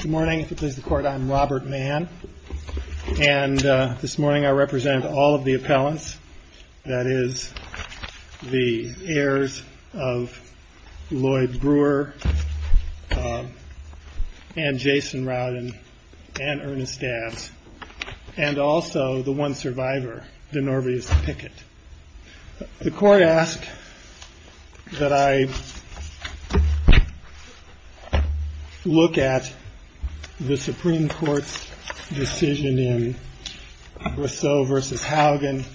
Good morning. If it pleases the Court, I'm Robert Mann, and this morning I represent all of the appellants, that is, the heirs of Lloyd Brewer and Jason Rowden and Ernest Dabbs, and also the one survivor, Denorvius Pickett. The Court asked that I look at the Supreme Court's decision in Briseau v. Haugen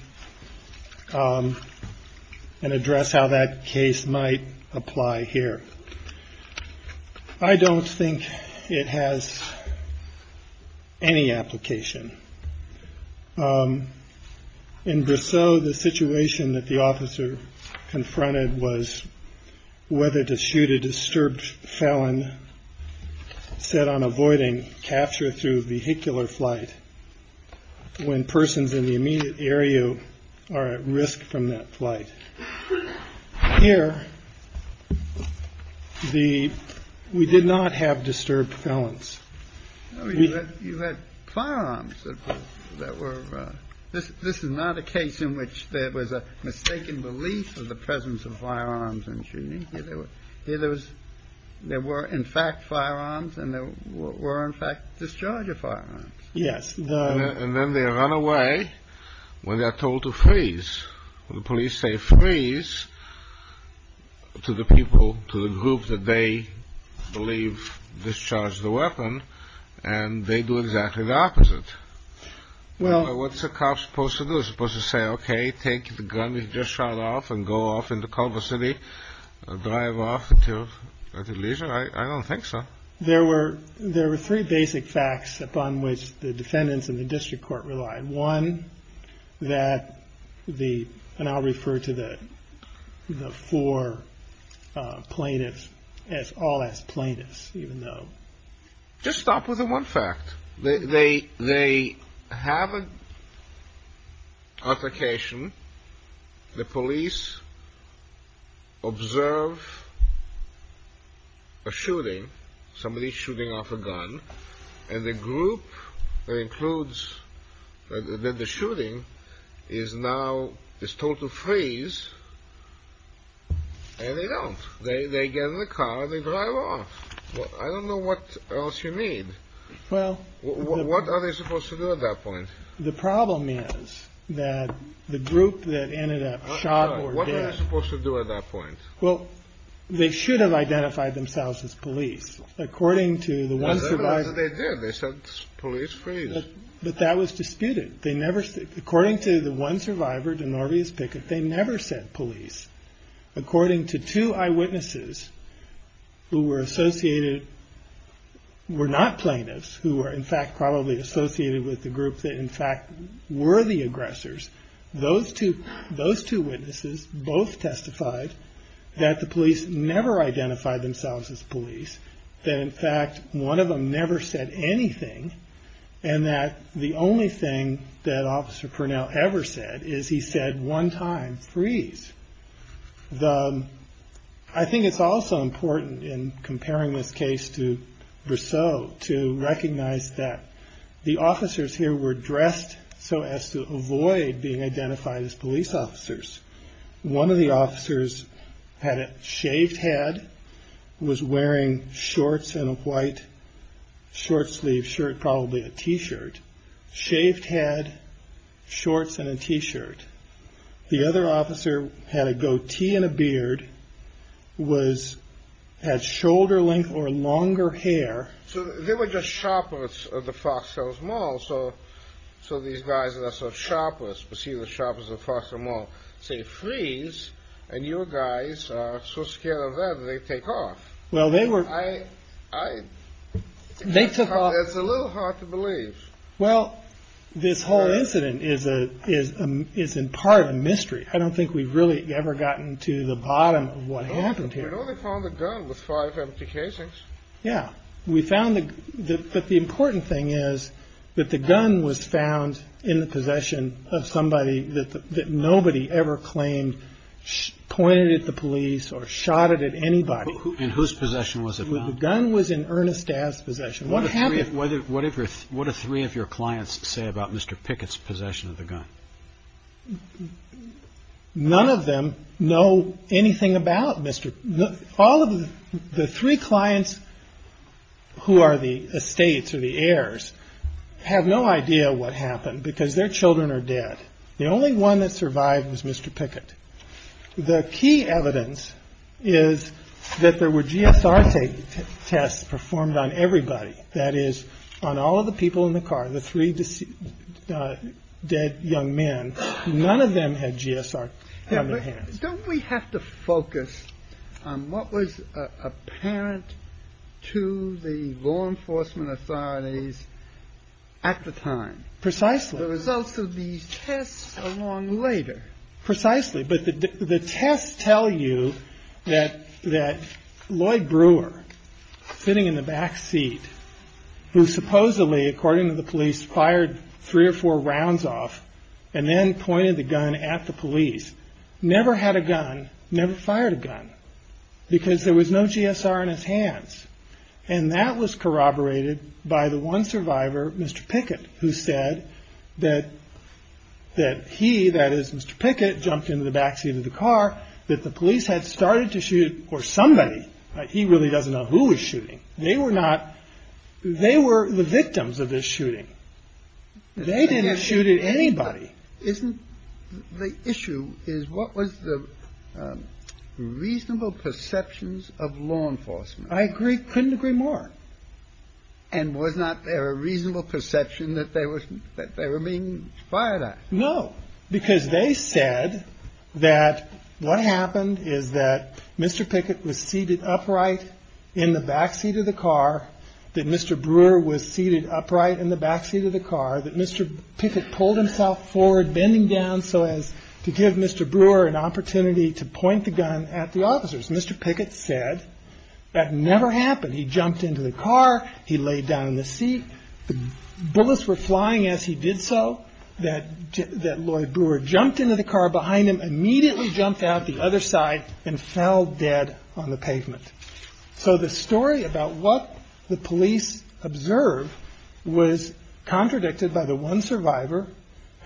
and address how that case might apply here. I don't think it has any application. In Briseau, the situation that the officer confronted was whether to shoot a disturbed felon set on avoiding capture through vehicular flight when persons in the immediate area are at risk from that flight. Here, we did not have disturbed felons. You had firearms. This is not a case in which there was a mistaken belief of the presence of firearms in shooting. There were, in fact, firearms, and there were, in fact, discharge of firearms. Yes. And then they run away when they are told to freeze. The police say freeze to the people, to the group that they believe discharged the weapon, and they do exactly the opposite. What's a cop supposed to do? Supposed to say, okay, take the gun you just shot off and go off into Culver City, drive off until at leisure? I don't think so. There were three basic facts upon which the defendants in the district court relied. Just stop with the one fact. They have an application. The police observe a shooting, somebody shooting off a gun, and the group that includes the shooting is now told to freeze, and they don't. They get in the car and they drive off. I don't know what else you need. Well, what are they supposed to do at that point? The problem is that the group that ended up shot or dead. What are they supposed to do at that point? Well, they should have identified themselves as police, according to the one survivor. They did. They said police, freeze. But that was disputed. According to the one survivor, Denorvius Pickett, they never said police. According to two eyewitnesses who were associated, were not plaintiffs, who were in fact probably associated with the group that in fact were the aggressors, those two witnesses both testified that the police never identified themselves as police. That in fact one of them never said anything, and that the only thing that Officer Purnell ever said is he said one time, freeze. I think it's also important in comparing this case to Briseau to recognize that the officers here were dressed so as to avoid being identified as police officers. One of the officers had a shaved head, was wearing shorts and a white short sleeve shirt, probably a t-shirt. Shaved head, shorts and a t-shirt. The other officer had a goatee and a beard, had shoulder length or longer hair. So they were just shoppers of the Fox Hills Mall. So these guys that are shoppers, perceived as shoppers of Fox Hill Mall, say freeze. And you guys are so scared of that, they take off. Well, they were... It's a little hard to believe. Well, this whole incident is in part a mystery. I don't think we've really ever gotten to the bottom of what happened here. We only found a gun with five empty casings. Yeah. We found the... But the important thing is that the gun was found in the possession of somebody that nobody ever claimed pointed at the police or shot at anybody. In whose possession was it found? The gun was in Ernest Daz's possession. What happened... What do three of your clients say about Mr. Pickett's possession of the gun? None of them know anything about Mr... All of the three clients who are the estates or the heirs have no idea what happened because their children are dead. The only one that survived was Mr. Pickett. The key evidence is that there were GSR tests performed on everybody. That is, on all of the people in the car, the three dead young men. None of them had GSR. Don't we have to focus on what was apparent to the law enforcement authorities at the time? Precisely. The results of these tests are long later. Precisely. But the tests tell you that Lloyd Brewer, sitting in the back seat, who supposedly, according to the police, fired three or four rounds off and then pointed the gun at the police, never had a gun, never fired a gun because there was no GSR in his hands. And that was corroborated by the one survivor, Mr. Pickett, who said that he, that is, Mr. Pickett, jumped into the back seat of the car, that the police had started to shoot... Or somebody. He really doesn't know who was shooting. They were not... They were the victims of this shooting. They didn't shoot at anybody. Isn't the issue is what was the reasonable perceptions of law enforcement? I agree. Couldn't agree more. And was not there a reasonable perception that they were being fired at? No. Because they said that what happened is that Mr. Pickett was seated upright in the back seat of the car, that Mr. Brewer was seated upright in the back seat of the car, that Mr. Pickett pulled himself forward, bending down so as to give Mr. Brewer an opportunity to point the gun at the officers. Mr. Pickett said that never happened. He jumped into the car. He laid down in the seat. The bullets were flying as he did so, that Lloyd Brewer jumped into the car behind him, immediately jumped out the other side and fell dead on the pavement. So the story about what the police observed was contradicted by the one survivor,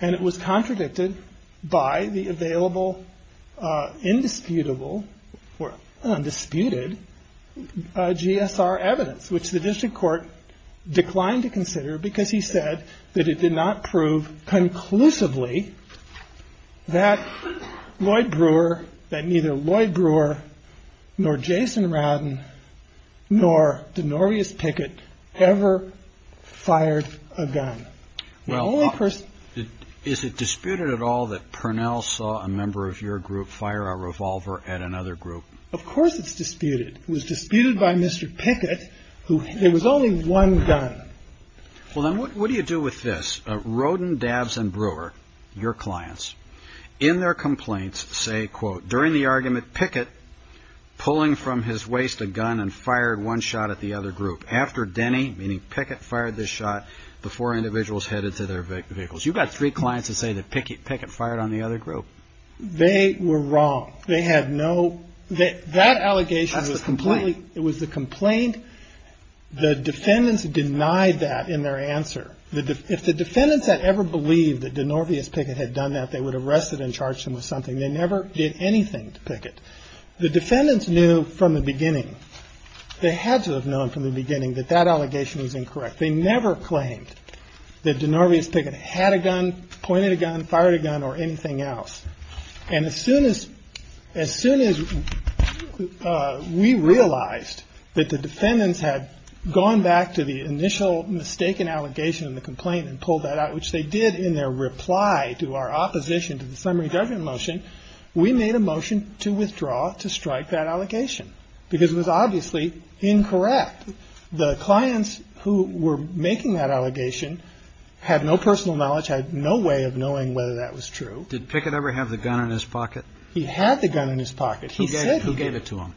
and it was contradicted by the available indisputable or undisputed GSR evidence, which the district court declined to consider because he said that it did not prove conclusively that Lloyd Brewer, that neither Lloyd Brewer nor Jason Radden nor Denorious Pickett ever fired a gun. Well, is it disputed at all that Purnell saw a member of your group fire a revolver at another group? Of course it's disputed. It was disputed by Mr. Pickett. There was only one gun. Well, then what do you do with this? Roden, Dabbs and Brewer, your clients, in their complaints say, quote, during the argument, Pickett pulling from his waist a gun and fired one shot at the other group after Denny, meaning Pickett, fired this shot before individuals headed to their vehicles. You've got three clients that say that Pickett fired on the other group. They were wrong. They had no. That allegation was completely. It was the complaint. The defendants denied that in their answer. If the defendants had ever believed that Denorious Pickett had done that, they would have arrested and charged him with something. They never did anything to Pickett. The defendants knew from the beginning. They had to have known from the beginning that that allegation was incorrect. They never claimed that Denorious Pickett had a gun, pointed a gun, fired a gun or anything else. And as soon as as soon as we realized that the defendants had gone back to the initial mistaken allegation in the complaint and pulled that out, which they did in their reply to our opposition to the summary judgment motion, we made a motion to withdraw to strike that allegation because it was obviously incorrect. The clients who were making that allegation had no personal knowledge, had no way of knowing whether that was true. Did Pickett ever have the gun in his pocket? He had the gun in his pocket. He said he gave it to him.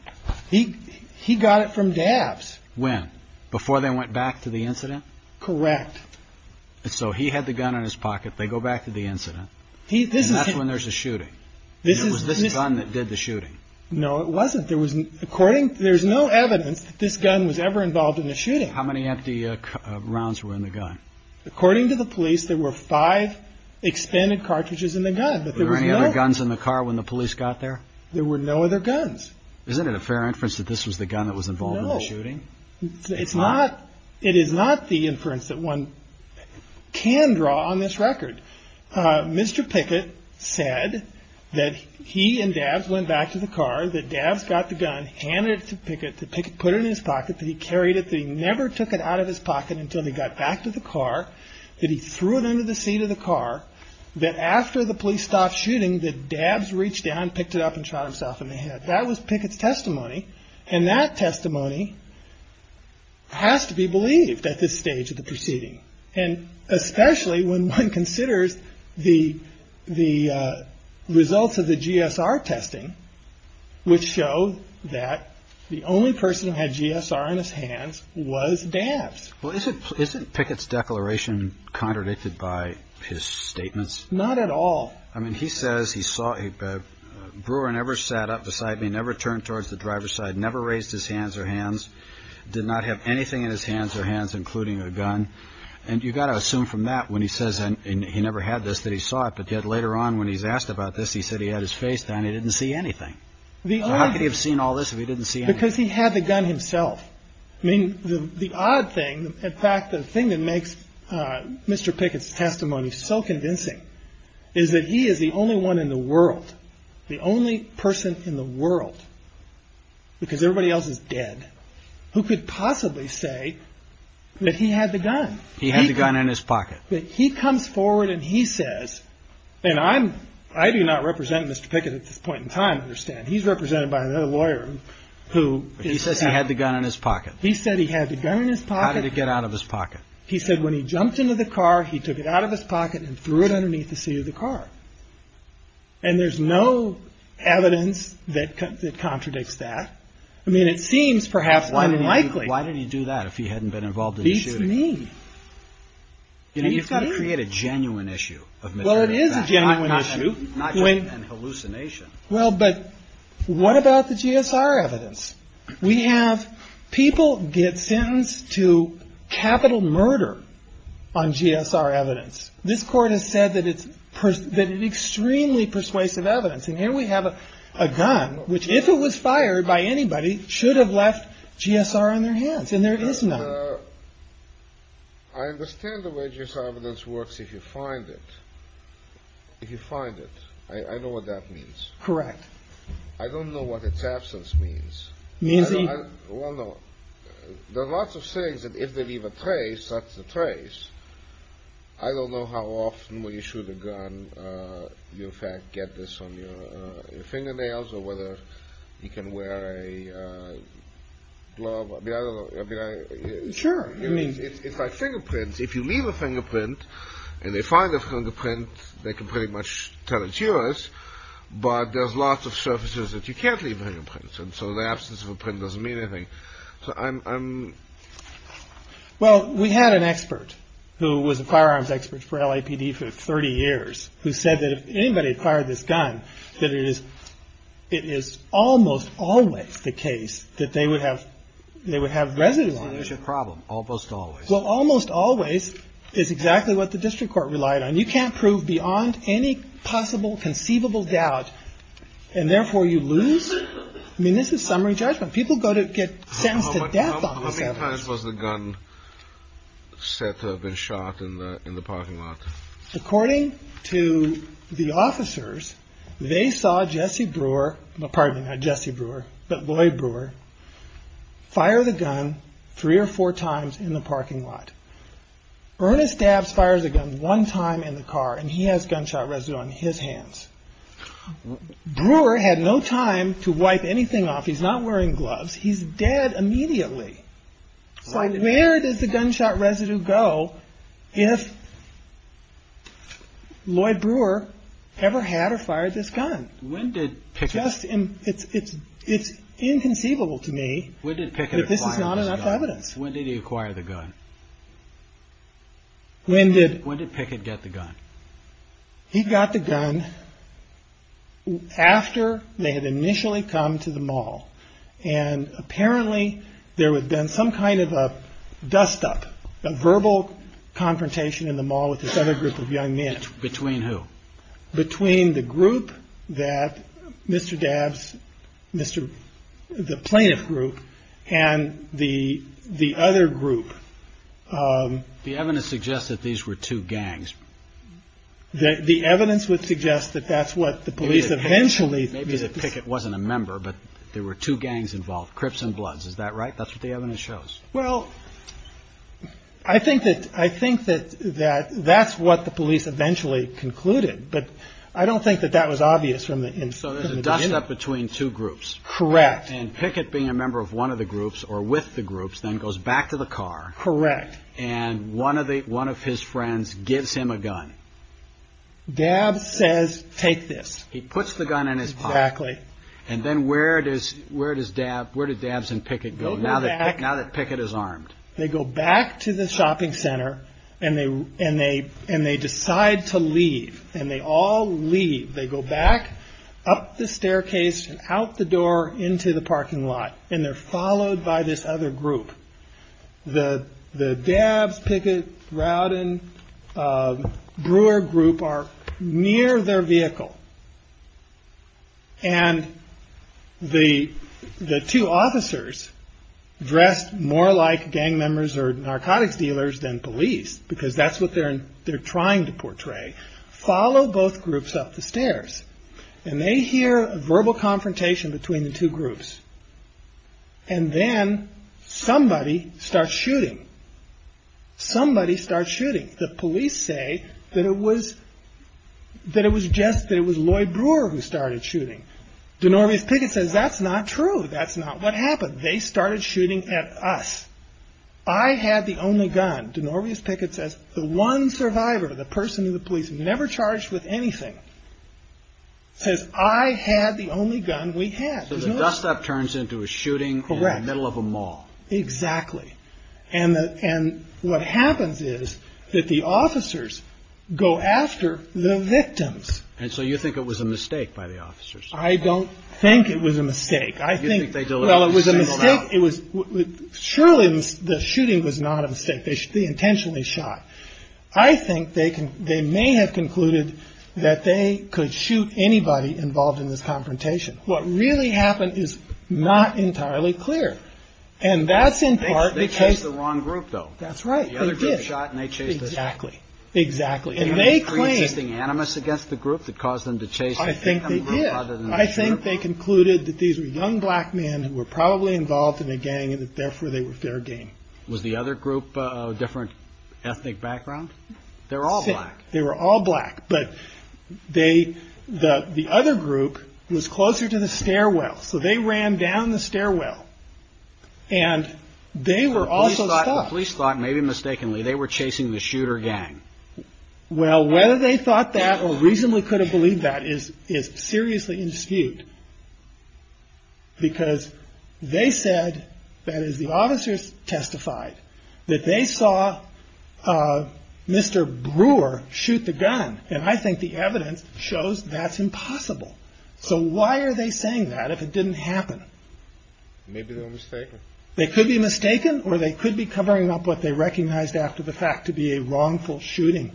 He he got it from dabs. When? Before they went back to the incident. Correct. So he had the gun in his pocket. They go back to the incident. This is when there's a shooting. This is this gun that did the shooting. No, it wasn't. There was according. There's no evidence that this gun was ever involved in the shooting. How many empty rounds were in the gun? According to the police, there were five expended cartridges in the gun. But there were any other guns in the car when the police got there? There were no other guns. Isn't it a fair inference that this was the gun that was involved in the shooting? It's not. It is not the inference that one can draw on this record. Mr. Pickett said that he and dad went back to the car. The dabs got the gun, handed it to pick it to pick it, put it in his pocket. He carried it. They never took it out of his pocket until they got back to the car. He threw it under the seat of the car that after the police stopped shooting, the dabs reached down, picked it up and shot himself in the head. That was Pickett's testimony. And that testimony has to be believed at this stage of the proceeding. And especially when one considers the the results of the G.S.R. testing, which show that the only person who had G.S.R. in his hands was dabs. Well, isn't isn't Pickett's declaration contradicted by his statements? Not at all. I mean, he says he saw a brewer and ever sat up beside me, never turned towards the driver's side, never raised his hands or hands, did not have anything in his hands or hands, including a gun. And you've got to assume from that when he says he never had this, that he saw it. But yet later on, when he's asked about this, he said he had his face down. He didn't see anything. How could he have seen all this if he didn't see it? Because he had the gun himself. I mean, the odd thing. In fact, the thing that makes Mr. Pickett's testimony so convincing is that he is the only one in the world, the only person in the world because everybody else is dead who could possibly say that he had the gun. He had the gun in his pocket. He comes forward and he says, and I'm I do not represent Mr. Pickett at this point in time. Understand he's represented by another lawyer who he says he had the gun in his pocket. He said he had the gun in his pocket to get out of his pocket. He said when he jumped into the car, he took it out of his pocket and threw it underneath the seat of the car. And there's no evidence that contradicts that. I mean, it seems perhaps unlikely. Why did he do that if he hadn't been involved in the shooting? Beats me. You know, you've got to create a genuine issue of material fact. Well, it is a genuine issue. Not just an hallucination. Well, but what about the GSR evidence? We have people get sentenced to capital murder on GSR evidence. This court has said that it's extremely persuasive evidence. And here we have a gun, which, if it was fired by anybody, should have left GSR on their hands. And there is none. I understand the way GSR evidence works if you find it. If you find it. I know what that means. Correct. I don't know what its absence means. Well, no. There are lots of sayings that if they leave a trace, that's the trace. I don't know how often, when you shoot a gun, you in fact get this on your fingernails, or whether you can wear a glove. I mean, I don't know. Sure. I mean, it's like fingerprints. If you leave a fingerprint, and they find a fingerprint, they can pretty much tell it's yours. But there's lots of surfaces that you can't leave fingerprints. And so the absence of a print doesn't mean anything. Well, we had an expert who was a firearms expert for LAPD for 30 years, who said that if anybody fired this gun, that it is almost always the case that they would have residue on it. It's a problem. Almost always. Well, almost always is exactly what the district court relied on. You can't prove beyond any possible conceivable doubt, and therefore you lose. I mean, this is summary judgment. People get sentenced to death on this evidence. How many times was the gun said to have been shot in the parking lot? According to the officers, they saw Jesse Brewer, pardon me, not Jesse Brewer, but Lloyd Brewer, fire the gun three or four times in the parking lot. Ernest Dabbs fires a gun one time in the car, and he has gunshot residue on his hands. Brewer had no time to wipe anything off. He's not wearing gloves. He's dead immediately. So where does the gunshot residue go if Lloyd Brewer ever had or fired this gun? It's inconceivable to me that this is not enough evidence. When did he acquire the gun? When did Pickett get the gun? He got the gun after they had initially come to the mall, and apparently there had been some kind of a dust-up, a verbal confrontation in the mall with this other group of young men. Between who? Between the group that Mr. Dabbs, the plaintiff group, and the other group. The evidence suggests that these were two gangs. The evidence would suggest that that's what the police eventually. Maybe that Pickett wasn't a member, but there were two gangs involved, Crips and Bloods. Is that right? That's what the evidence shows. Well, I think that that's what the police eventually concluded, but I don't think that that was obvious from the beginning. So there's a dust-up between two groups. Correct. And Pickett being a member of one of the groups, or with the groups, then goes back to the car. Correct. And one of his friends gives him a gun. Dabbs says, take this. He puts the gun in his pocket. Exactly. And then where did Dabbs and Pickett go now that Pickett is armed? They go back to the shopping center, and they decide to leave, and they all leave. They go back up the staircase and out the door into the parking lot, and they're followed by this other group. The Dabbs, Pickett, Rowden, Brewer group are near their vehicle, and the two officers dressed more like gang members or narcotics dealers than police, follow both groups up the stairs, and they hear a verbal confrontation between the two groups. And then somebody starts shooting. Somebody starts shooting. The police say that it was Lloyd Brewer who started shooting. Denorvius Pickett says, that's not true. That's not what happened. They started shooting at us. I had the only gun. Denorvius Pickett says, the one survivor, the person who the police never charged with anything, says, I had the only gun we had. So the dust-up turns into a shooting in the middle of a mall. Correct. Exactly. And what happens is that the officers go after the victims. And so you think it was a mistake by the officers. I don't think it was a mistake. You think they delivered the signal now. Surely the shooting was not a mistake. They intentionally shot. I think they may have concluded that they could shoot anybody involved in this confrontation. What really happened is not entirely clear. And that's in part because they chased the wrong group, though. That's right. They did. The other group shot, and they chased the same group. Exactly. And they claim the animus against the group that caused them to chase the victim group. I think they did. They said that these were young black men who were probably involved in a gang, and that, therefore, they were fair game. Was the other group a different ethnic background? They were all black. They were all black. But the other group was closer to the stairwell. So they ran down the stairwell. And they were also stopped. The police thought, maybe mistakenly, they were chasing the shooter gang. Well, whether they thought that or reasonably could have believed that is seriously in dispute. Because they said, that is, the officers testified, that they saw Mr. Brewer shoot the gun. And I think the evidence shows that's impossible. So why are they saying that if it didn't happen? Maybe they were mistaken. They could be mistaken, or they could be covering up what they recognized after the fact to be a wrongful shooting.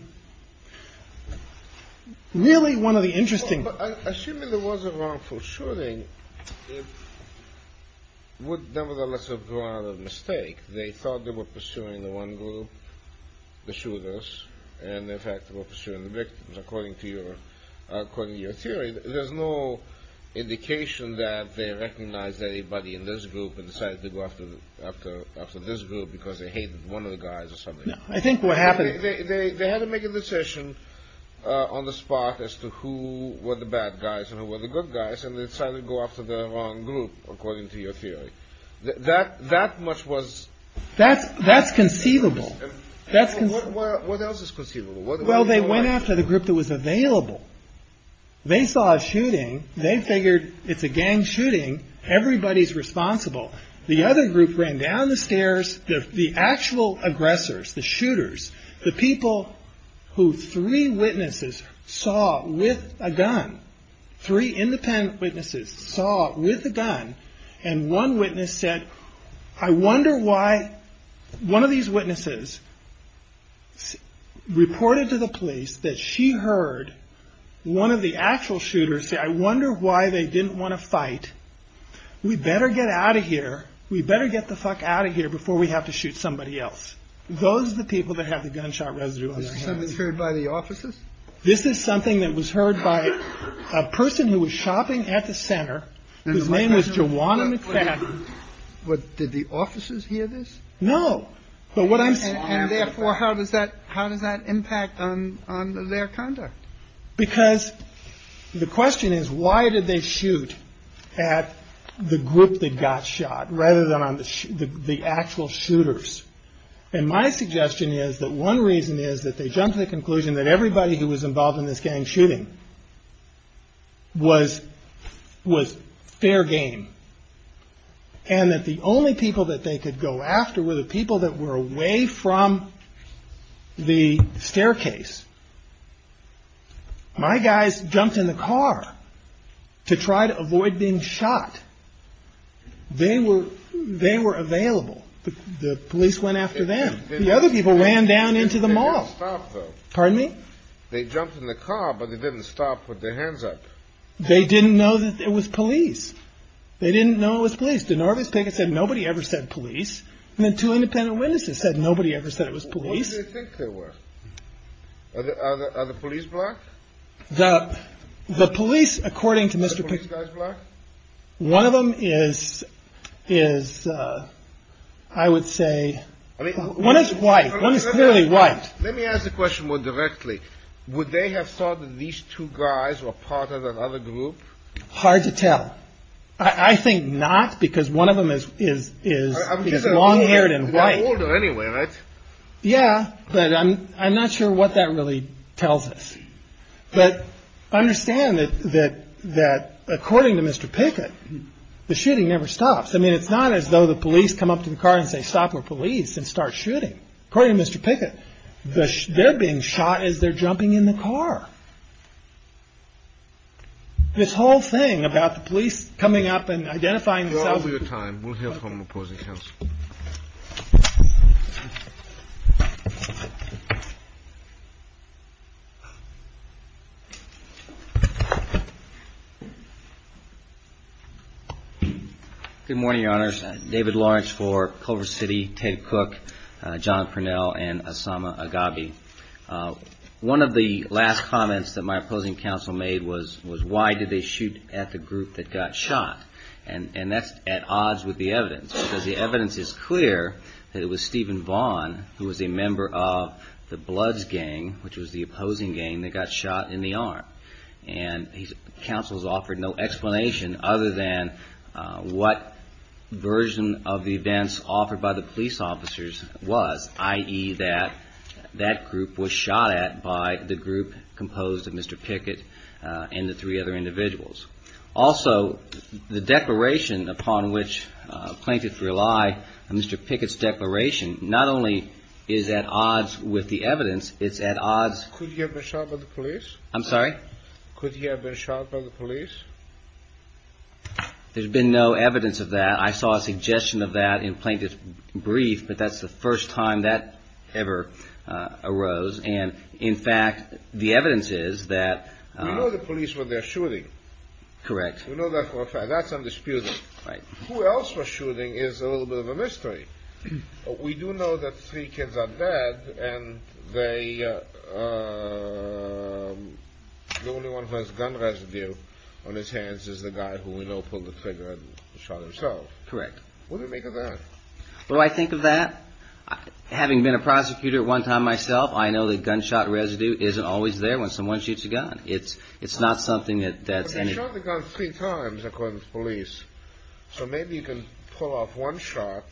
Really, one of the interesting. Assuming it was a wrongful shooting, it would nevertheless have gone out of mistake. They thought they were pursuing the one group, the shooters, and, in fact, were pursuing the victims, according to your theory. There's no indication that they recognized anybody in this group and decided to go after this group because they hated one of the guys or something. I think what happened. They had to make a decision on the spot as to who were the bad guys and who were the good guys. And they decided to go after the wrong group, according to your theory. That much was. That's conceivable. What else is conceivable? Well, they went after the group that was available. They saw a shooting. They figured it's a gang shooting. Everybody's responsible. The other group ran down the stairs. The actual aggressors, the shooters, the people who three witnesses saw with a gun, three independent witnesses saw with a gun. And one witness said, I wonder why one of these witnesses reported to the police that she heard one of the actual shooters say, I wonder why they didn't want to fight. We better get out of here. We better get the fuck out of here before we have to shoot somebody else. Those are the people that have the gunshot residue. It's heard by the officers. This is something that was heard by a person who was shopping at the center. His name is Jawan. And what did the officers hear this? No. But what I am. And therefore, how does that how does that impact on their conduct? Because the question is, why did they shoot at the group that got shot rather than on the actual shooters? And my suggestion is that one reason is that they jumped to the conclusion that everybody who was involved in this gang shooting was was fair game. And that the only people that they could go after were the people that were away from the staircase. My guys jumped in the car to try to avoid being shot. They were they were available. The police went after them. The other people ran down into the mall. Pardon me. They jumped in the car, but they didn't stop with their hands up. They didn't know that it was police. They didn't know it was police. DeNorvis Pickett said nobody ever said police. And then two independent witnesses said nobody ever said it was police. I think there were other police block the police, according to Mr. One of them is is I would say one is white. One is clearly white. Let me ask the question more directly. Would they have thought that these two guys were part of another group? Hard to tell. I think not because one of them is is is long haired and white anyway. Yeah. But I'm I'm not sure what that really tells us. But I understand that that that according to Mr. Pickett, the shooting never stops. I mean, it's not as though the police come up to the car and say stop or police and start shooting. According to Mr. Pickett, they're being shot as they're jumping in the car. This whole thing about the police coming up and identifying the time. We'll hear from the opposing counsel. Good morning, your honors. David Lawrence for Culver City. Ted Cook. John Cornell and Osama Gabi. One of the last comments that my opposing counsel made was was why did they shoot at the group that got shot? And that's at odds with the evidence, because the evidence is clear that it was Stephen Vaughn who was a member of the Bloods gang, which was the opposing gang that got shot in the arm. And he's counsels offered no explanation other than what version of the events offered by the police officers was, i.e. that that group was shot at by the group composed of Mr. Pickett and the three other individuals. Also, the declaration upon which plaintiffs rely, Mr. Pickett's declaration not only is at odds with the evidence, it's at odds. Could he have been shot by the police? I'm sorry? Could he have been shot by the police? There's been no evidence of that. I saw a suggestion of that in plaintiff's brief, but that's the first time that ever arose. And in fact, the evidence is that. We know the police were there shooting. Correct. We know that for a fact. That's undisputed. Right. Who else was shooting is a little bit of a mystery. We do know that three kids are dead and the only one who has gun residue on his hands is the guy who we know pulled the trigger and shot himself. Correct. What do you make of that? Well, I think of that, having been a prosecutor at one time myself, I know that gunshot residue isn't always there when someone shoots a gun. It's not something that's any... So maybe you can pull off one shot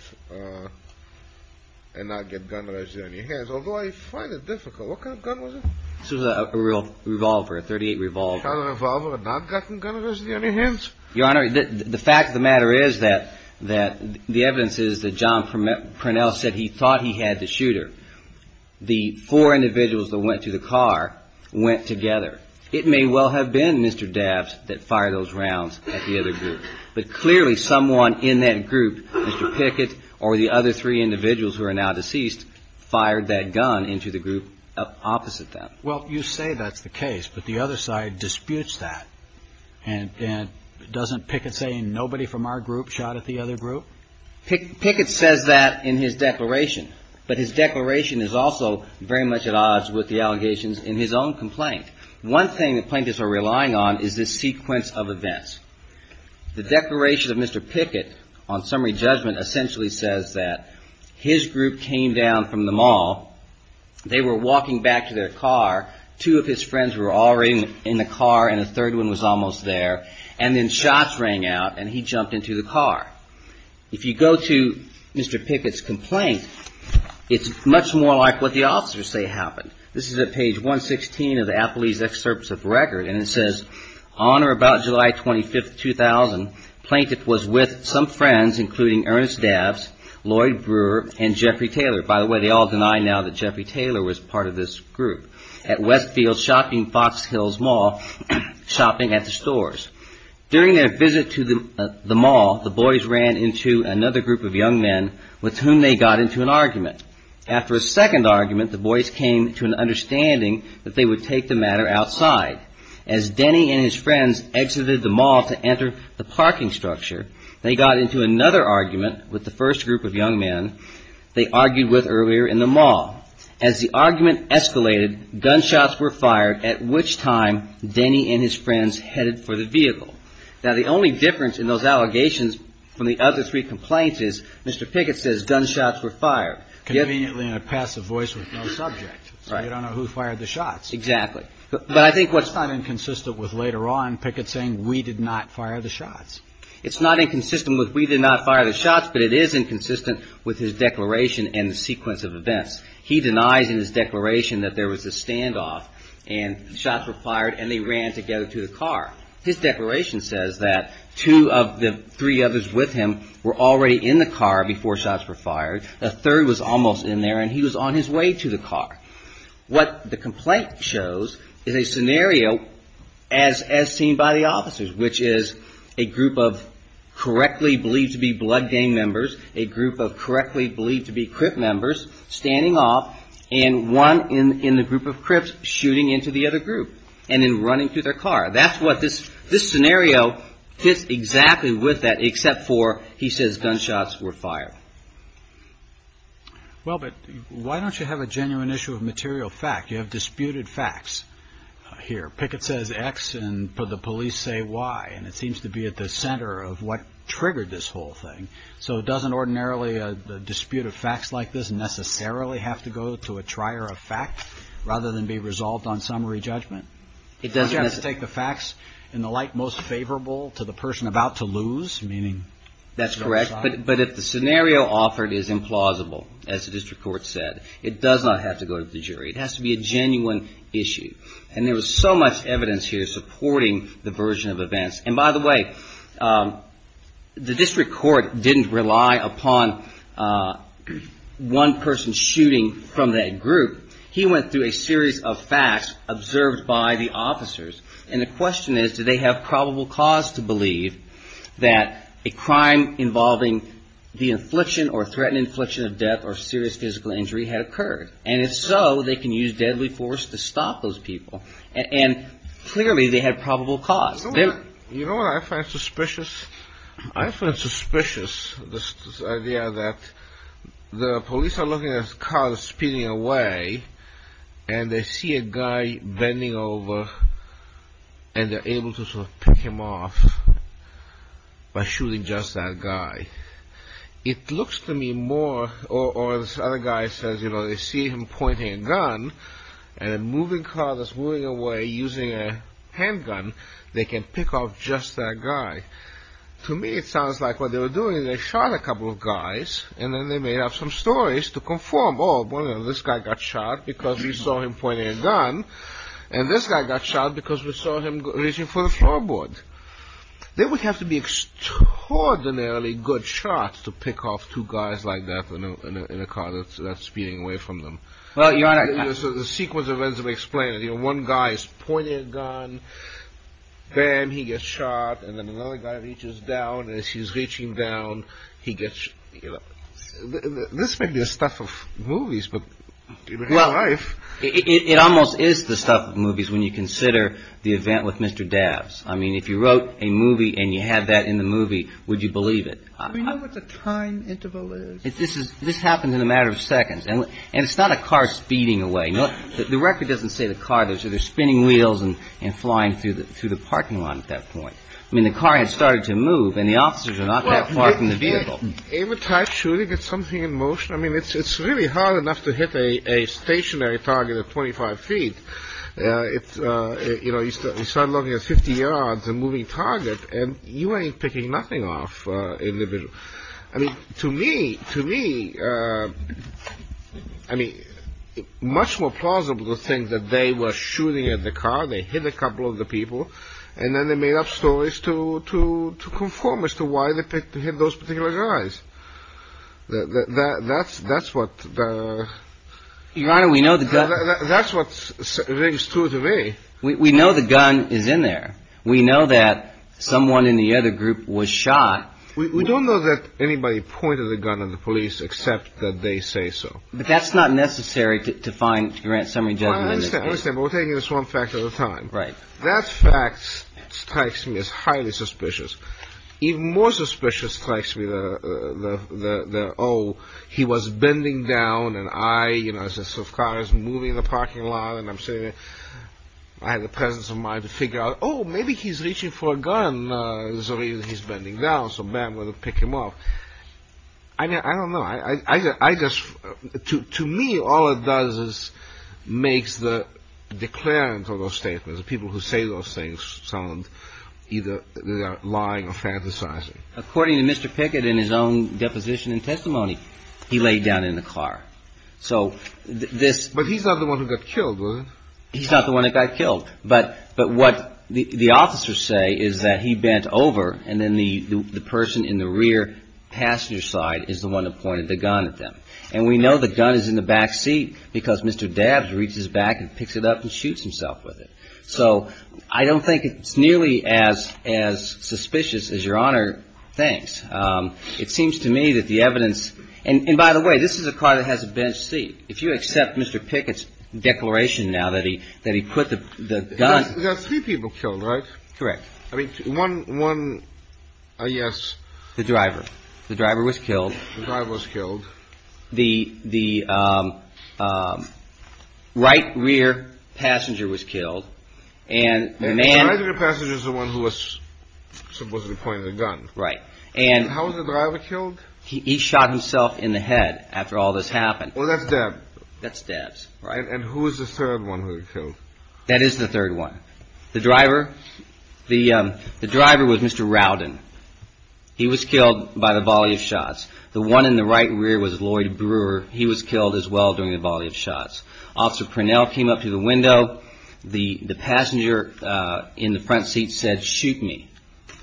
and not get gun residue on your hands. Although I find it difficult. What kind of gun was it? This was a real revolver, a .38 revolver. A revolver had not gotten gun residue on your hands? Your Honor, the fact of the matter is that the evidence is that John Parnell said he thought he had the shooter. The four individuals that went to the car went together. It may well have been Mr. Dabbs that fired those rounds at the other group. But clearly someone in that group, Mr. Pickett or the other three individuals who are now deceased, fired that gun into the group opposite them. Well, you say that's the case, but the other side disputes that. And doesn't Pickett say nobody from our group shot at the other group? Pickett says that in his declaration, but his declaration is also very much at odds with the allegations in his own complaint. One thing that plaintiffs are relying on is this sequence of events. The declaration of Mr. Pickett on summary judgment essentially says that his group came down from the mall. They were walking back to their car. Two of his friends were already in the car and a third one was almost there. And then shots rang out and he jumped into the car. If you go to Mr. Pickett's complaint, it's much more like what the officers say happened. This is at page 116 of the Applebee's excerpts of record and it says, On or about July 25, 2000, Plaintiff was with some friends including Ernest Dabbs, Lloyd Brewer, and Jeffrey Taylor. By the way, they all deny now that Jeffrey Taylor was part of this group at Westfield Shopping Fox Hills Mall shopping at the stores. During their visit to the mall, the boys ran into another group of young men with whom they got into an argument. After a second argument, the boys came to an understanding that they would take the matter outside. As Denny and his friends exited the mall to enter the parking structure, they got into another argument with the first group of young men they argued with earlier in the mall. As the argument escalated, gunshots were fired, at which time Denny and his friends headed for the vehicle. Now, the only difference in those allegations from the other three complaints is Mr. Pickett says gunshots were fired. Conveniently in a passive voice with no subject, so you don't know who fired the shots. Exactly. But I think what's not inconsistent with later on Pickett saying we did not fire the shots. It's not inconsistent with we did not fire the shots, but it is inconsistent with his declaration and the sequence of events. He denies in his declaration that there was a standoff and shots were fired and they ran together to the car. His declaration says that two of the three others with him were already in the car before shots were fired. A third was almost in there and he was on his way to the car. What the complaint shows is a scenario as seen by the officers, which is a group of correctly believed to be Blood Gang members, a group of correctly believed to be Crip members, standing off and one in the group of Crips shooting into the other group and then running to their car. That's what this this scenario fits exactly with that, except for he says gunshots were fired. Well, but why don't you have a genuine issue of material fact? You have disputed facts here. Pickett says X and put the police say Y. And it seems to be at the center of what triggered this whole thing. So it doesn't ordinarily dispute of facts like this necessarily have to go to a trier of fact rather than be resolved on summary judgment. It doesn't take the facts in the light most favorable to the person about to lose. Meaning that's correct. But if the scenario offered is implausible, as the district court said, it does not have to go to the jury. It has to be a genuine issue. And there was so much evidence here supporting the version of events. And by the way, the district court didn't rely upon one person shooting from that group. He went through a series of facts observed by the officers. And the question is, do they have probable cause to believe that a crime involving the infliction or threatened infliction of death or serious physical injury had occurred? And if so, they can use deadly force to stop those people. And clearly they had probable cause. You know what I find suspicious? I find suspicious this idea that the police are looking at a car that's speeding away. And they see a guy bending over. And they're able to sort of pick him off by shooting just that guy. It looks to me more or this other guy says, you know, they see him pointing a gun. And a moving car that's moving away using a handgun, they can pick off just that guy. To me, it sounds like what they were doing is they shot a couple of guys. And then they may have some stories to conform. Oh, well, this guy got shot because we saw him pointing a gun. And this guy got shot because we saw him reaching for the floorboard. There would have to be extraordinarily good shots to pick off two guys like that in a car that's speeding away from them. Well, you know, the sequence of events we explained, you know, one guy is pointing a gun. Then he gets shot and then another guy reaches down as he's reaching down. He gets you know, this may be the stuff of movies, but in real life. It almost is the stuff of movies when you consider the event with Mr. Dabbs. I mean, if you wrote a movie and you had that in the movie, would you believe it? We know what the time interval is. This is this happens in a matter of seconds. And it's not a car speeding away. The record doesn't say the car. They're spinning wheels and flying through the through the parking lot at that point. I mean, the car has started to move and the officers are not that far from the vehicle. It would try to get something in motion. I mean, it's really hard enough to hit a stationary target at 25 feet. You know, you start looking at 50 yards and moving target and you ain't picking nothing off individual. I mean, to me, to me, I mean, much more plausible to think that they were shooting at the car. They hit a couple of the people and then they made up stories to conform as to why they hit those particular guys. That's that's what you know, we know that that's what's true to me. We know the gun is in there. We know that someone in the other group was shot. We don't know that anybody pointed the gun at the police, except that they say so. But that's not necessary to find grant summary. We're taking this one fact at a time, right? That fact strikes me as highly suspicious. Even more suspicious strikes me. Oh, he was bending down. And I, you know, I said, so cars moving in the parking lot and I'm sitting there. I had the presence of mind to figure out, oh, maybe he's reaching for a gun. So he's bending down. So, man, we'll pick him up. I mean, I don't know. I guess to me, all it does is makes the declarant of those statements, the people who say those things sound either lying or fantasizing. According to Mr. Pickett in his own deposition and testimony, he laid down in the car. So this but he's not the one who got killed. He's not the one that got killed. But but what the officers say is that he bent over. And then the person in the rear passenger side is the one that pointed the gun at them. And we know the gun is in the back seat because Mr. Dabbs reaches back and picks it up and shoots himself with it. So I don't think it's nearly as as suspicious as Your Honor thinks. It seems to me that the evidence and by the way, this is a car that has a bench seat. If you accept Mr. Pickett's declaration now that he that he put the gun. There are three people killed, right? Correct. I mean, one one. Yes. The driver. The driver was killed. The driver was killed. The the right rear passenger was killed. And the passenger is the one who was supposedly pointed a gun. Right. And how was the driver killed? He shot himself in the head after all this happened. Well, that's that that stabs. Right. And who is the third one who killed? That is the third one. The driver. The driver was Mr. Rowden. He was killed by the volley of shots. The one in the right rear was Lloyd Brewer. He was killed as well during the volley of shots. Officer Cornell came up to the window. The the passenger in the front seat said, shoot me.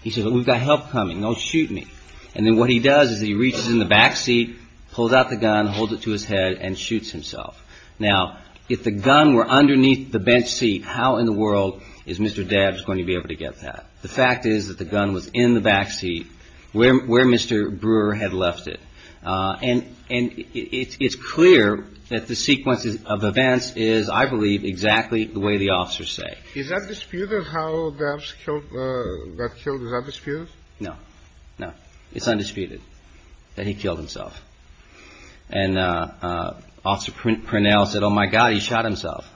He said, we've got help coming. Oh, shoot me. And then what he does is he reaches in the backseat, pulls out the gun, holds it to his head and shoots himself. Now, if the gun were underneath the bench seat, how in the world is Mr. Debs going to be able to get that? The fact is that the gun was in the backseat where Mr. Brewer had left it. And and it's clear that the sequence of events is, I believe, exactly the way the officers say. Is that disputed how that's killed? Is that disputed? No, no, it's undisputed that he killed himself. And Officer Cornell said, oh, my God, he shot himself.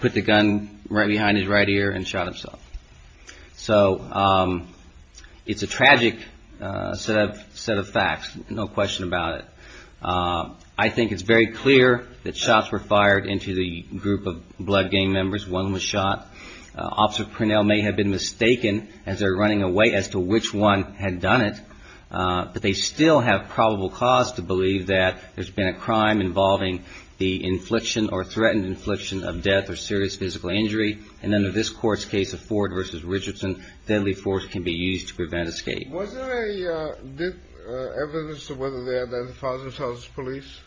Put the gun right behind his right ear and shot himself. So it's a tragic set of set of facts. No question about it. I think it's very clear that shots were fired into the group of blood gang members. One was shot. Officer Cornell may have been mistaken as they're running away as to which one had done it. But they still have probable cause to believe that there's been a crime involving the infliction or threatened infliction of death or serious physical injury. And under this court's case of Ford versus Richardson, deadly force can be used to prevent escape. Was there a good evidence of whether they identified themselves as police?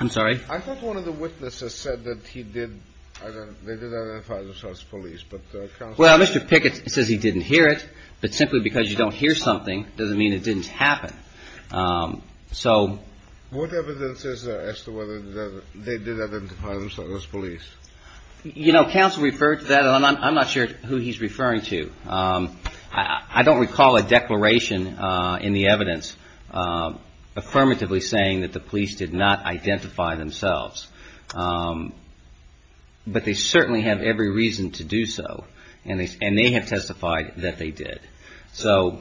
I'm sorry. I thought one of the witnesses said that he did. They did identify themselves as police. But well, Mr. Pickett says he didn't hear it. But simply because you don't hear something doesn't mean it didn't happen. So what evidence is there as to whether they did identify themselves as police? You know, counsel referred to that and I'm not sure who he's referring to. I don't recall a declaration in the evidence affirmatively saying that the police did not identify themselves. But they certainly have every reason to do so. And they have testified that they did. So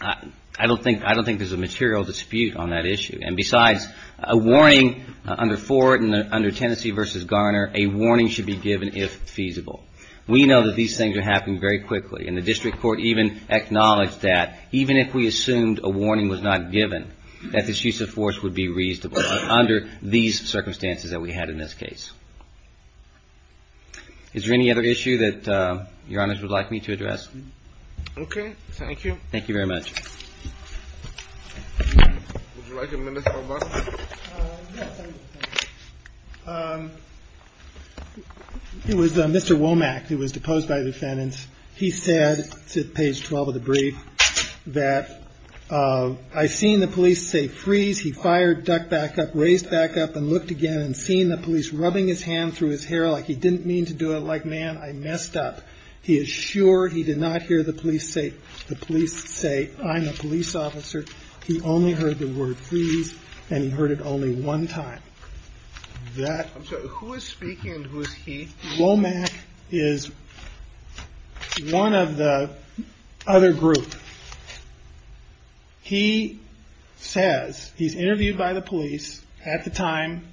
I don't think I don't think there's a material dispute on that issue. And besides, a warning under Ford and under Tennessee versus Garner, a warning should be given if feasible. We know that these things are happening very quickly. And the district court even acknowledged that even if we assumed a warning was not given, that this use of force would be reasonable under these circumstances that we had in this case. Is there any other issue that Your Honors would like me to address? Okay. Thank you. Thank you very much. It was Mr. Womack who was deposed by defendants. He said to page 12 of the brief that I seen the police say freeze. He fired duck back up, raised back up and looked again and seen the police rubbing his hand through his hair like he didn't mean to do it. He said, I don't like man. I messed up. He is sure he did not hear the police say the police say I'm a police officer. He only heard the word freeze and he heard it only one time. Who is speaking? Who is he? Womack is one of the other group. He says he's interviewed by the police at the time.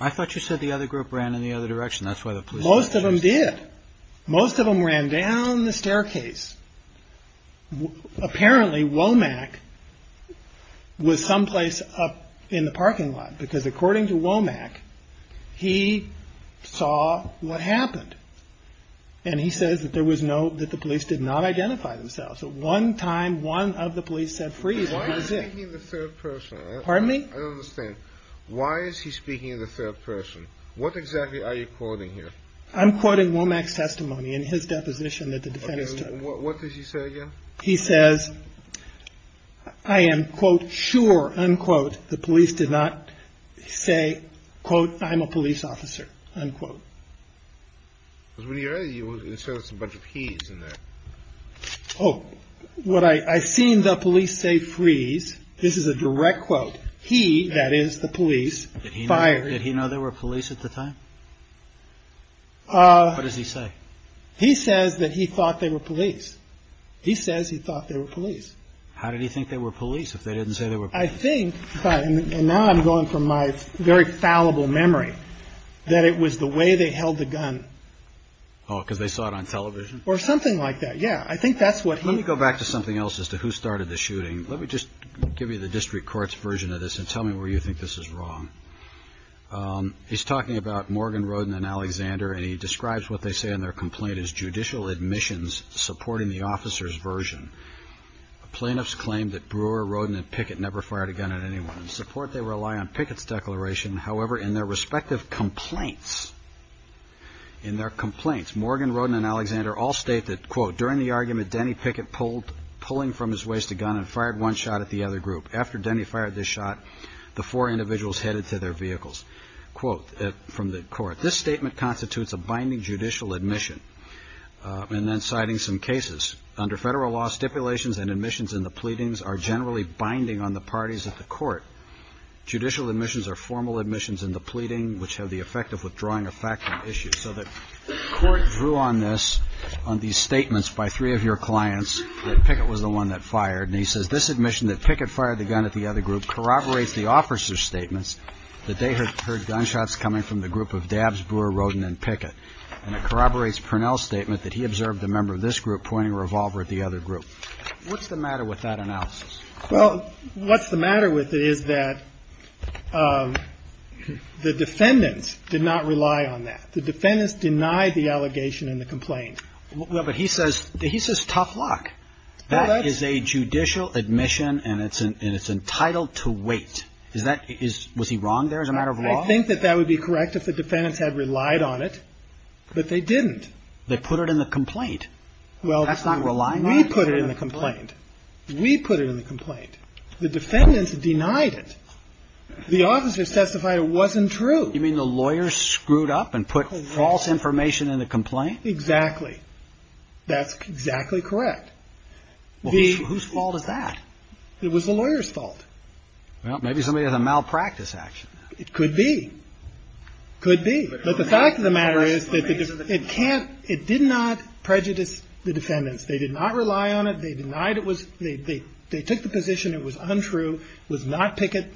I thought you said the other group ran in the other direction. That's why the most of them did. Most of them ran down the staircase. Apparently Womack was someplace up in the parking lot, because according to Womack, he saw what happened. And he says that there was no that the police did not identify themselves. One time, one of the police said, freeze. Pardon me? I don't understand. Why is he speaking in the third person? What exactly are you quoting here? I'm quoting Womack's testimony in his deposition that the defendants took. What did he say again? He says, I am, quote, sure, unquote. The police did not say, quote, I'm a police officer, unquote. When you say there's a bunch of keys in there. Oh, what I seen the police say, freeze. This is a direct quote. He that is the police. Did he know there were police at the time? What does he say? He says that he thought they were police. He says he thought they were police. How did he think they were police if they didn't say they were? I think. And now I'm going from my very fallible memory that it was the way they held the gun. Oh, because they saw it on television or something like that. Yeah. I think that's what let me go back to something else as to who started the shooting. Let me just give you the district court's version of this and tell me where you think this is wrong. He's talking about Morgan, Roden and Alexander, and he describes what they say in their complaint is judicial admissions supporting the officers version. Plaintiffs claim that Brewer, Roden and Pickett never fired a gun at anyone in support. They rely on Pickett's declaration. However, in their respective complaints. In their complaints, Morgan, Roden and Alexander all state that, quote, during the argument, Denny Pickett pulled pulling from his waist, a gun and fired one shot at the other group. After Denny fired this shot, the four individuals headed to their vehicles, quote, from the court. This statement constitutes a binding judicial admission and then citing some cases under federal law. Stipulations and admissions in the pleadings are generally binding on the parties at the court. Judicial admissions are formal admissions in the pleading, which have the effect of withdrawing a factual issue. So the court drew on this on these statements by three of your clients. The first one is that Pickett was the one that fired and he says this admission that Pickett fired the gun at the other group corroborates the officer's statements that they heard gunshots coming from the group of Dabbs, Brewer, Roden and Pickett. And it corroborates Purnell's statement that he observed a member of this group pointing a revolver at the other group. What's the matter with that analysis? Well, what's the matter with it is that the defendants did not rely on that. The defendants denied the allegation in the complaint. Well, but he says he says tough luck. That is a judicial admission and it's and it's entitled to wait. Is that is was he wrong there as a matter of law? I think that that would be correct if the defendants had relied on it. But they didn't. They put it in the complaint. Well, that's not relying. We put it in the complaint. We put it in the complaint. The defendants denied it. The officers testified it wasn't true. You mean the lawyers screwed up and put false information in the complaint? Exactly. That's exactly correct. Whose fault is that? It was the lawyer's fault. Well, maybe somebody had a malpractice action. It could be. Could be. But the fact of the matter is that it can't it did not prejudice the defendants. They did not rely on it. They denied it was they they took the position. It was untrue. Was not Pickett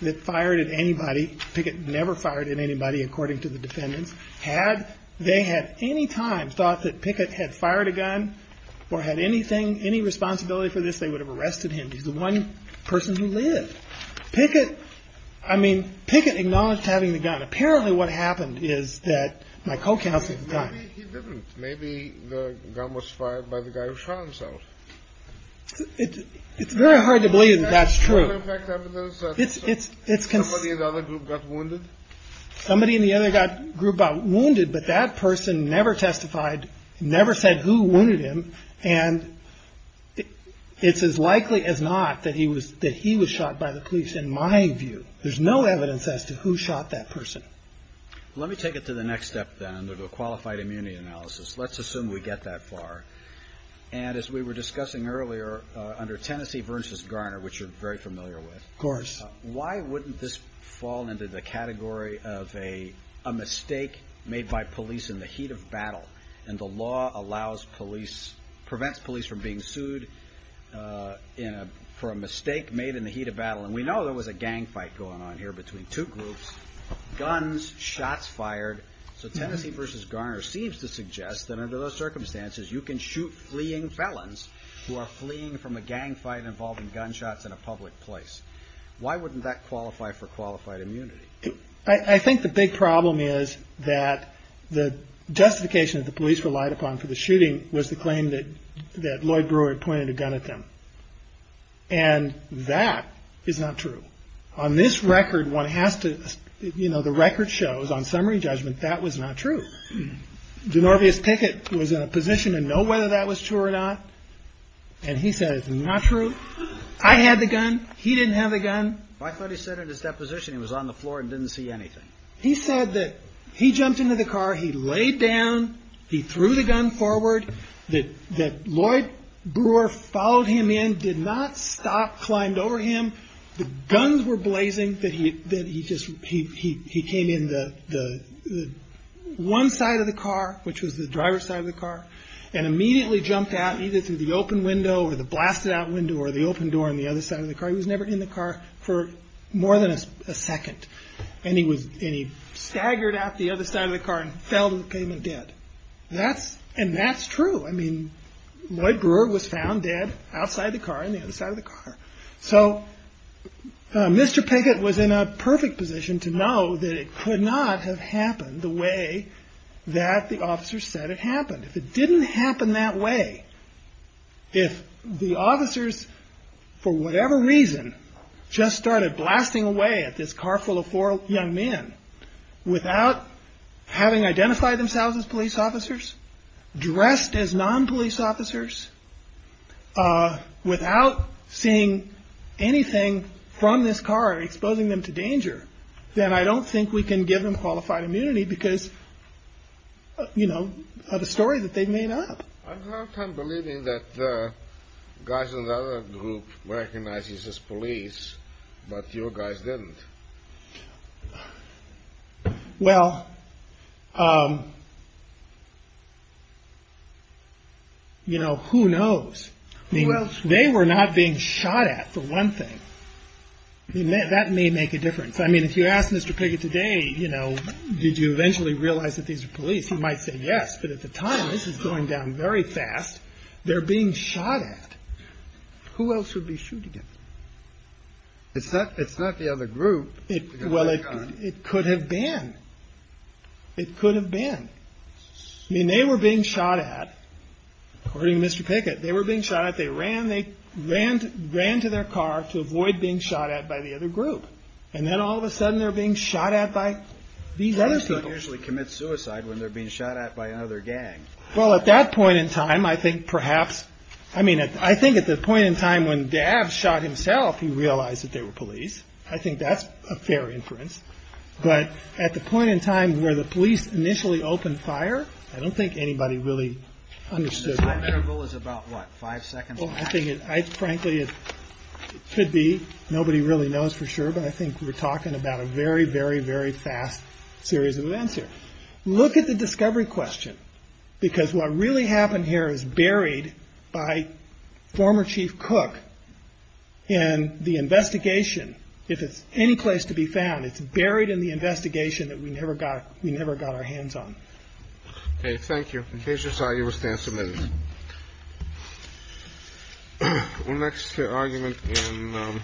that fired at anybody. Pickett never fired at anybody, according to the defendants. Had they had any time thought that Pickett had fired a gun or had anything, any responsibility for this, they would have arrested him. He's the one person who lived. Pickett, I mean, Pickett acknowledged having the gun. Apparently what happened is that my co-counsel at the time. Maybe he didn't. Maybe the gun was fired by the guy who shot himself. It's very hard to believe that that's true. Somebody in the other group got wounded? Somebody in the other group got wounded, but that person never testified, never said who wounded him. And it's as likely as not that he was that he was shot by the police, in my view. There's no evidence as to who shot that person. Let me take it to the next step then, to the qualified immunity analysis. Let's assume we get that far. And as we were discussing earlier, under Tennessee versus Garner, which you're very familiar with. Of course. Why wouldn't this fall into the category of a mistake made by police in the heat of battle? And the law allows police, prevents police from being sued for a mistake made in the heat of battle. And we know there was a gang fight going on here between two groups. Guns, shots fired. So Tennessee versus Garner seems to suggest that under those circumstances, you can shoot fleeing felons who are fleeing from a gang fight involving gunshots in a public place. Why wouldn't that qualify for qualified immunity? I think the big problem is that the justification that the police relied upon for the shooting was the claim that Lloyd Brewer had pointed a gun at them. And that is not true. On this record, one has to, you know, the record shows on summary judgment that was not true. Denorvius Pickett was in a position to know whether that was true or not. And he said it's not true. I had the gun. He didn't have the gun. I thought he said in his deposition he was on the floor and didn't see anything. He said that he jumped into the car. He laid down. He threw the gun forward. That Lloyd Brewer followed him in, did not stop, climbed over him. The guns were blazing. That he just, he came in the one side of the car, which was the driver's side of the car, and immediately jumped out either through the open window or the blasted out window or the open door on the other side of the car. He was never in the car for more than a second. And he staggered out the other side of the car and fell to the pavement dead. And that's true. I mean, Lloyd Brewer was found dead outside the car on the other side of the car. So Mr. Pickett was in a perfect position to know that it could not have happened the way that the officers said it happened. If it didn't happen that way, if the officers, for whatever reason, just started blasting away at this car full of four young men without having identified themselves as police officers, dressed as non-police officers, without seeing anything from this car exposing them to danger, then I don't think we can give them qualified immunity because of the story that they made up. I have a hard time believing that guys in the other group were recognized as police, but your guys didn't. Well, you know, who knows? I mean, they were not being shot at, for one thing. That may make a difference. I mean, if you ask Mr. Pickett today, you know, did you eventually realize that these are police, he might say yes. But at the time, this is going down very fast. They're being shot at. Who else would be shooting at them? It's not the other group. Well, it could have been. It could have been. I mean, they were being shot at. According to Mr. Pickett, they were being shot at. They ran. They ran to their car to avoid being shot at by the other group. And then all of a sudden, they're being shot at by these other people. Guys don't usually commit suicide when they're being shot at by another gang. Well, at that point in time, I think perhaps, I mean, I think at the point in time when Dabbs shot himself, he realized that they were police. I think that's a fair inference. But at the point in time where the police initially opened fire, I don't think anybody really understood that. The time interval is about, what, five seconds? Well, I think, frankly, it could be. Nobody really knows for sure. But I think we're talking about a very, very, very fast series of events here. Look at the discovery question, because what really happened here is buried by former Chief Cook and the investigation. If it's any place to be found, it's buried in the investigation that we never got. We never got our hands on. Thank you. In case you're sorry, you will stand submitted. We're next to argument in.